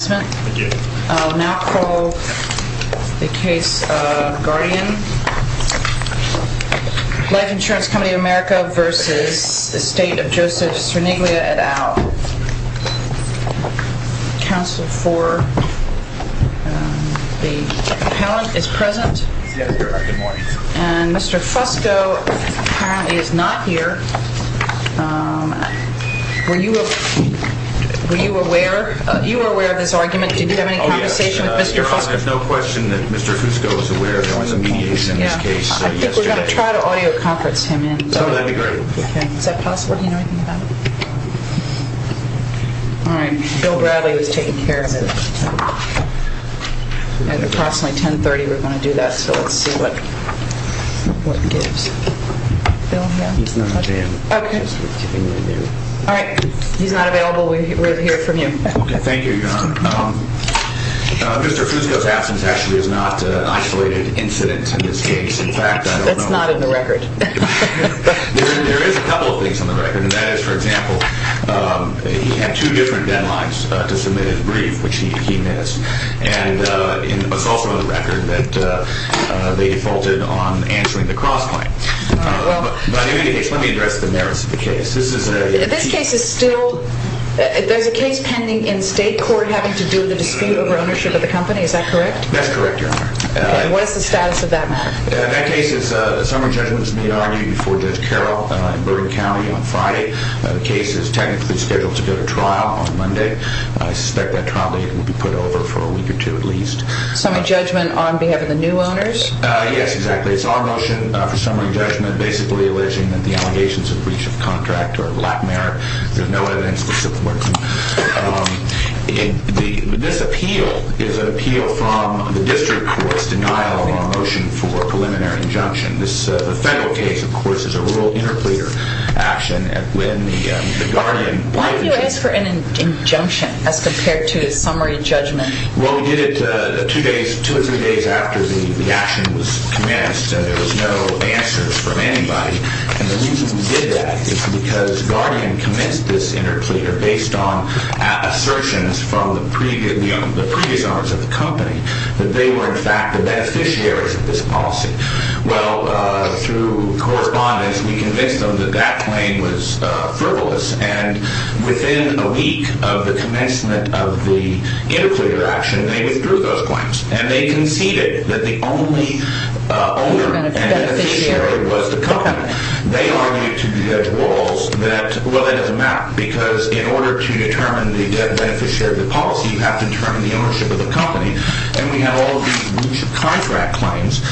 et al. Counsel for the appellant is present. Mr. Fusco is not here. Were you aware of this argument? Do you have any conversation with Mr. Fusco? Your Honor, there's no question that Mr. Fusco is aware. There was a mediation in this case yesterday. I think we're going to try to audio conference him in. That would be great. Is that possible? Do you know anything about it? Alright, Bill Bradley was taking care of this. At approximately 10.30 we're going to do that, so let's see what what gives. Alright, he's not available. We'll hear from you. Okay, thank you, Your Honor. Mr. Fusco's absence actually is not an isolated incident in this case. In fact, I don't know... That's not in the record. There is a couple of things on the record, and that is, for example, he had two different deadlines to submit his brief, which he missed. And it was also on the record that they defaulted on answering the cross-claim. But in any case, let me address the merits of the case. This case is still... There's a case pending in state court having to do with the dispute over ownership of the company. Is that correct? That's correct, Your Honor. And what does the status of that matter? That case is... Summary judgment is being argued before Judge Carroll in Burden County on Friday. The case is technically scheduled to go to trial on Monday. I suspect that trial date will be put over for a week or two at least. Summary judgment on behalf of the new owners? Yes, exactly. It's our motion for summary judgment, basically alleging that the allegations of breach of contract are of lack of merit. There's no evidence to support them. This appeal is an appeal from the district courts' denial of our motion for a preliminary injunction. This federal case, of course, is a rural interpleader action. When the guardian... Why did you ask for an injunction as compared to a summary judgment? Well, we did it two or three days after the action was commenced, and there was no answers from anybody. And the reason we did that is because guardian commenced this interpleader based on assertions from the predecessors of the company that they were, in fact, the beneficiaries of this policy. Well, through correspondence, we convinced them that that claim was frivolous, and within a week of the commencement of the interpleader action, they withdrew those claims, and they conceded that the only owner and beneficiary was the company. They argued to the walls that, well, that doesn't matter because in order to determine the beneficiary of the policy, you have to determine the ownership of the company, and we have all these breach of contract claims,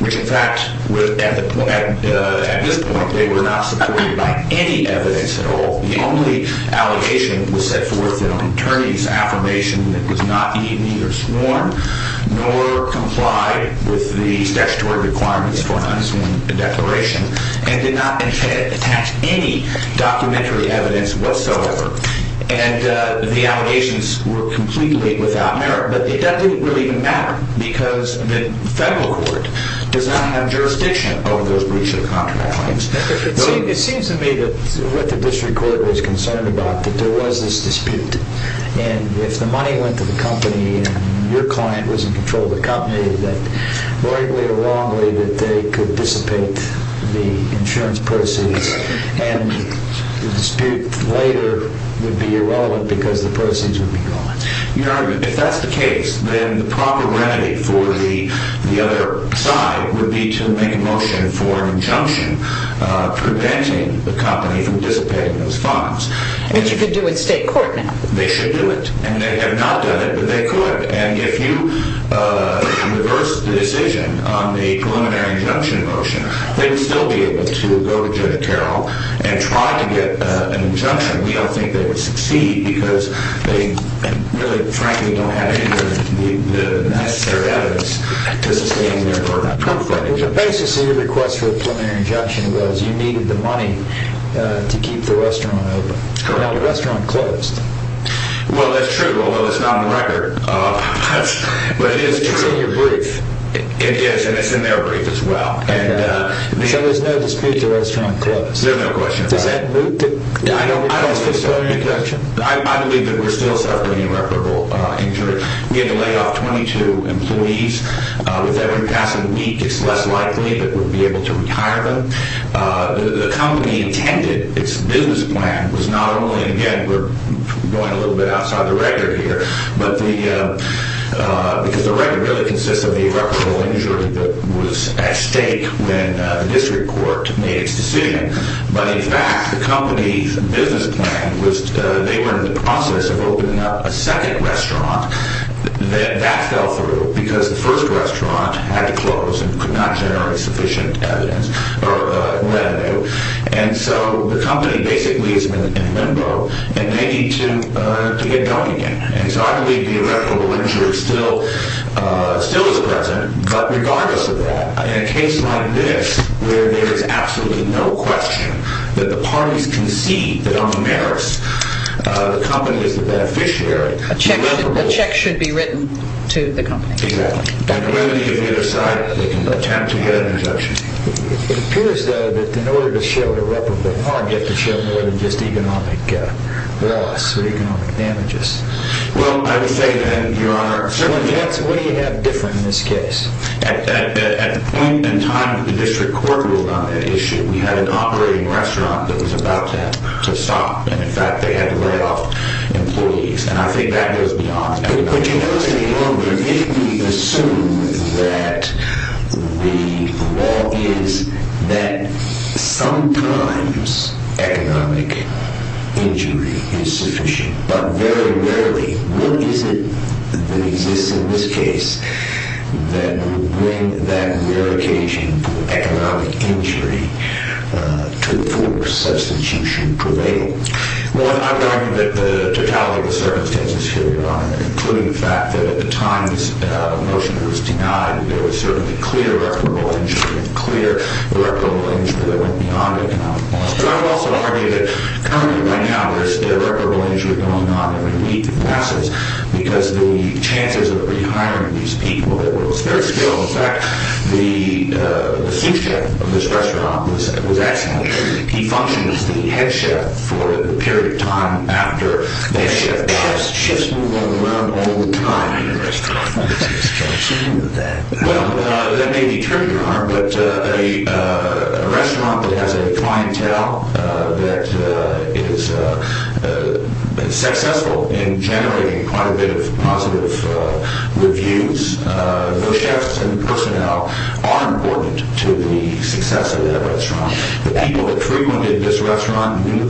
which, in fact, at this point, they were not supported by any evidence at all. The only allegation was set forth in an attorney's affirmation that was not either sworn nor complied with the statutory requirements for an unassigned declaration and did not attach any documentary evidence whatsoever. And the allegations were completely without merit, but that didn't really even matter because the federal court does not have jurisdiction over those breach of contract claims. It seems to me that what the district court was concerned about, that there was this dispute, and if the money went to the company and your client was in control of the company, that rightly or wrongly that they could dissipate the insurance proceeds, and the dispute later would be irrelevant because the proceeds would be gone. You know what I mean? If that's the case, then the proper remedy for the other side would be to make a motion for an injunction preventing the company from dissipating those funds. Which you could do in state court now. They should do it. And they have not done it, but they could. And if you reverse the decision on the preliminary injunction motion, they would still be able to go to Judge Carroll and try to get an injunction. We don't think they would succeed because they really, frankly, don't have any of the necessary evidence to sustain their verdict. The basis of your request for a preliminary injunction was you needed the money to keep the restaurant open. Now the restaurant closed. Well, that's true, although it's not on the record. But it is true. It's in your brief. It is, and it's in their brief as well. So there's no dispute the restaurant closed. There's no question about it. I believe that we're still suffering irreparable injury. We had to lay off 22 employees. With every passing week, it's less likely that we'll be able to retire them. The company intended its business plan was not only, again, we're going a little bit outside the record here, because the record really consists of the irreparable injury that was at stake when the district court made its decision. But, in fact, the company's business plan was they were in the process of opening up a second restaurant. That fell through because the first restaurant had to close and could not generate sufficient evidence or revenue. And so the company basically has been in limbo, and they need to get going again. And so I believe the irreparable injury still is present. But regardless of that, in a case like this where there is absolutely no question that the parties concede that on the merits, the company is the beneficiary. A check should be written to the company. Exactly. It appears, though, that in order to show irreparable harm, you have to show more than just economic loss or economic damages. Well, I would say that, Your Honor, certainly. What do you have different in this case? At the point in time that the district court ruled on that issue, we had an operating restaurant that was about to stop. And, in fact, they had to lay off employees. And I think that goes beyond that. But, Your Honor, if we assume that the law is that sometimes economic injury is sufficient, but very rarely, what is it that exists in this case that would bring that rare occasion of economic injury to the fore such that you should prevail? Well, I would argue that the totality of the circumstances here, Your Honor, including the fact that at the time the motion was denied, there was certainly clear irreparable injury, clear irreparable injury that went beyond economic loss. But I would also argue that currently, right now, there is still irreparable injury going on every week that passes because the chances of rehiring these people that were of spare skill. In fact, the sous chef of this restaurant was excellent. He functioned as the head chef for the period of time after the head chef died. Chefs move around all the time in a restaurant. What's the explanation of that? Well, that may be true, Your Honor. But a restaurant that has a clientele that is successful in generating quite a bit of positive reviews, those chefs and personnel are important to the success of that restaurant. The people that frequented this restaurant knew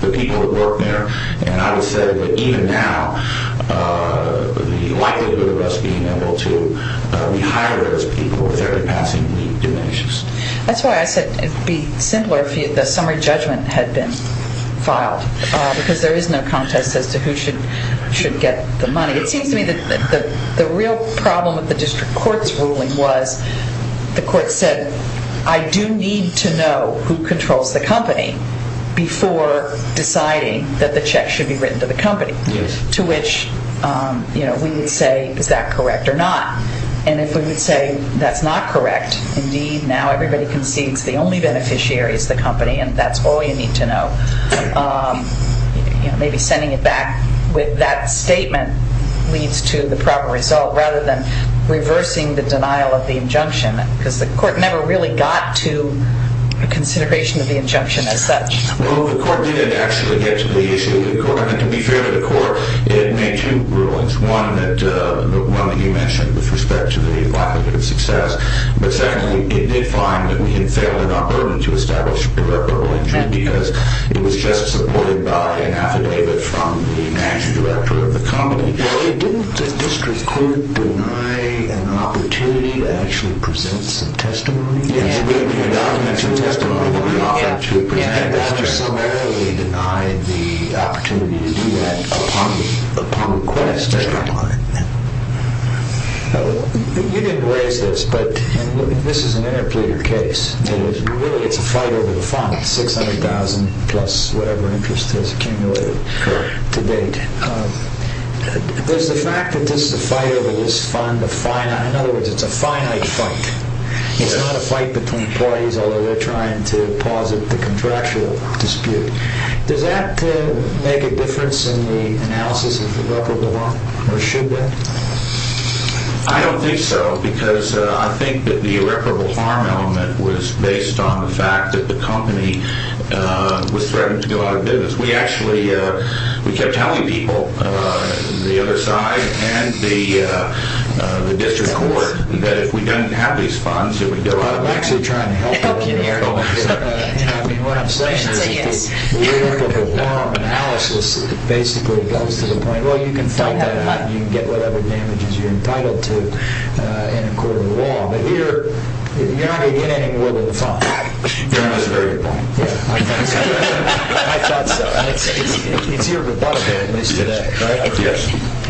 the people that worked there. And I would say that even now, the likelihood of us being able to rehire those people with every passing week diminishes. That's why I said it would be simpler if the summary judgment had been filed because there is no contest as to who should get the money. It seems to me that the real problem with the district court's ruling was the court said, I do need to know who controls the company before deciding that the check should be written to the company, to which we would say, is that correct or not? And if we would say that's not correct, indeed, now everybody concedes the only beneficiary is the company and that's all you need to know. Maybe sending it back with that statement leads to the proper result rather than reversing the denial of the injunction because the court never really got to a consideration of the injunction as such. Well, the court didn't actually get to the issue of the court. And to be fair to the court, it made two rulings, one that you mentioned with respect to the lack of good success, but secondly, it did find that we had failed in our burden to establish a proper ruling because it was just supported by an affidavit from the managing director of the company. Well, didn't the district court deny an opportunity to actually present some testimony? Yes, we did. We did not have the opportunity to present a testimony. Yes, that's right. We did not necessarily deny the opportunity to do that upon request. Yes, that's right. You didn't raise this, but this is an interpleader case. It really is a fight over the funds, $600,000 plus whatever interest has accumulated to date. There's the fact that this is a fight over this fund, in other words, it's a finite fight. It's not a fight between parties, although they're trying to posit the contractual dispute. Does that make a difference in the analysis of irreparable harm, or should that? I don't think so because I think that the irreparable harm element was based on the fact that the company was threatened to go out of business. We actually kept telling people, the other side and the district court, that if we didn't have these funds, it would go out of business. I'm actually trying to help you here. What I'm saying is the irreparable harm analysis basically goes to the point, well, you can fight that out and you can get whatever damages you're entitled to in a court of law, but here, you're not going to get any more than the fund. That's a very good point. I thought so.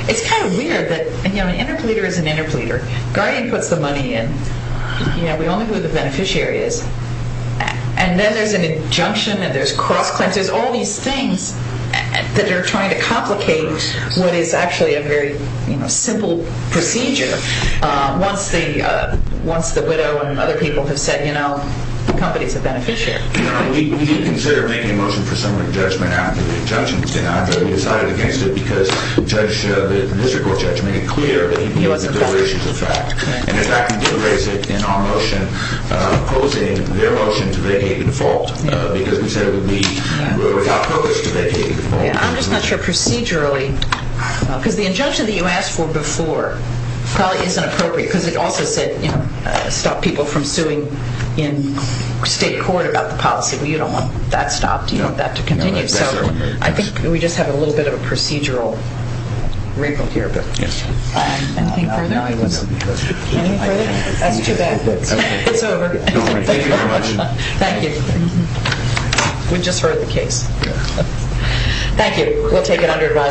It's kind of weird that an interpleader is an interpleader. Guardian puts the money in. We all know who the beneficiary is. And then there's an injunction and there's cross-claims. There's all these things that are trying to complicate what is actually a very simple procedure. Once the widow and other people have said, you know, the company's a beneficiary. We didn't consider making a motion for summary judgment after the injunction was denied. We decided against it because the district court judge made it clear that he was in favor of the fact. And, in fact, we did raise it in our motion opposing their motion to vacate the default because we said it would be without purpose to vacate the default. I'm just not sure procedurally, because the injunction that you asked for before probably isn't appropriate because it also said, you know, stop people from suing in state court about the policy. Well, you don't want that stopped. You want that to continue. So I think we just have a little bit of a procedural rebuke here. Anything further? That's too bad. It's over. Thank you. We just heard the case. Thank you.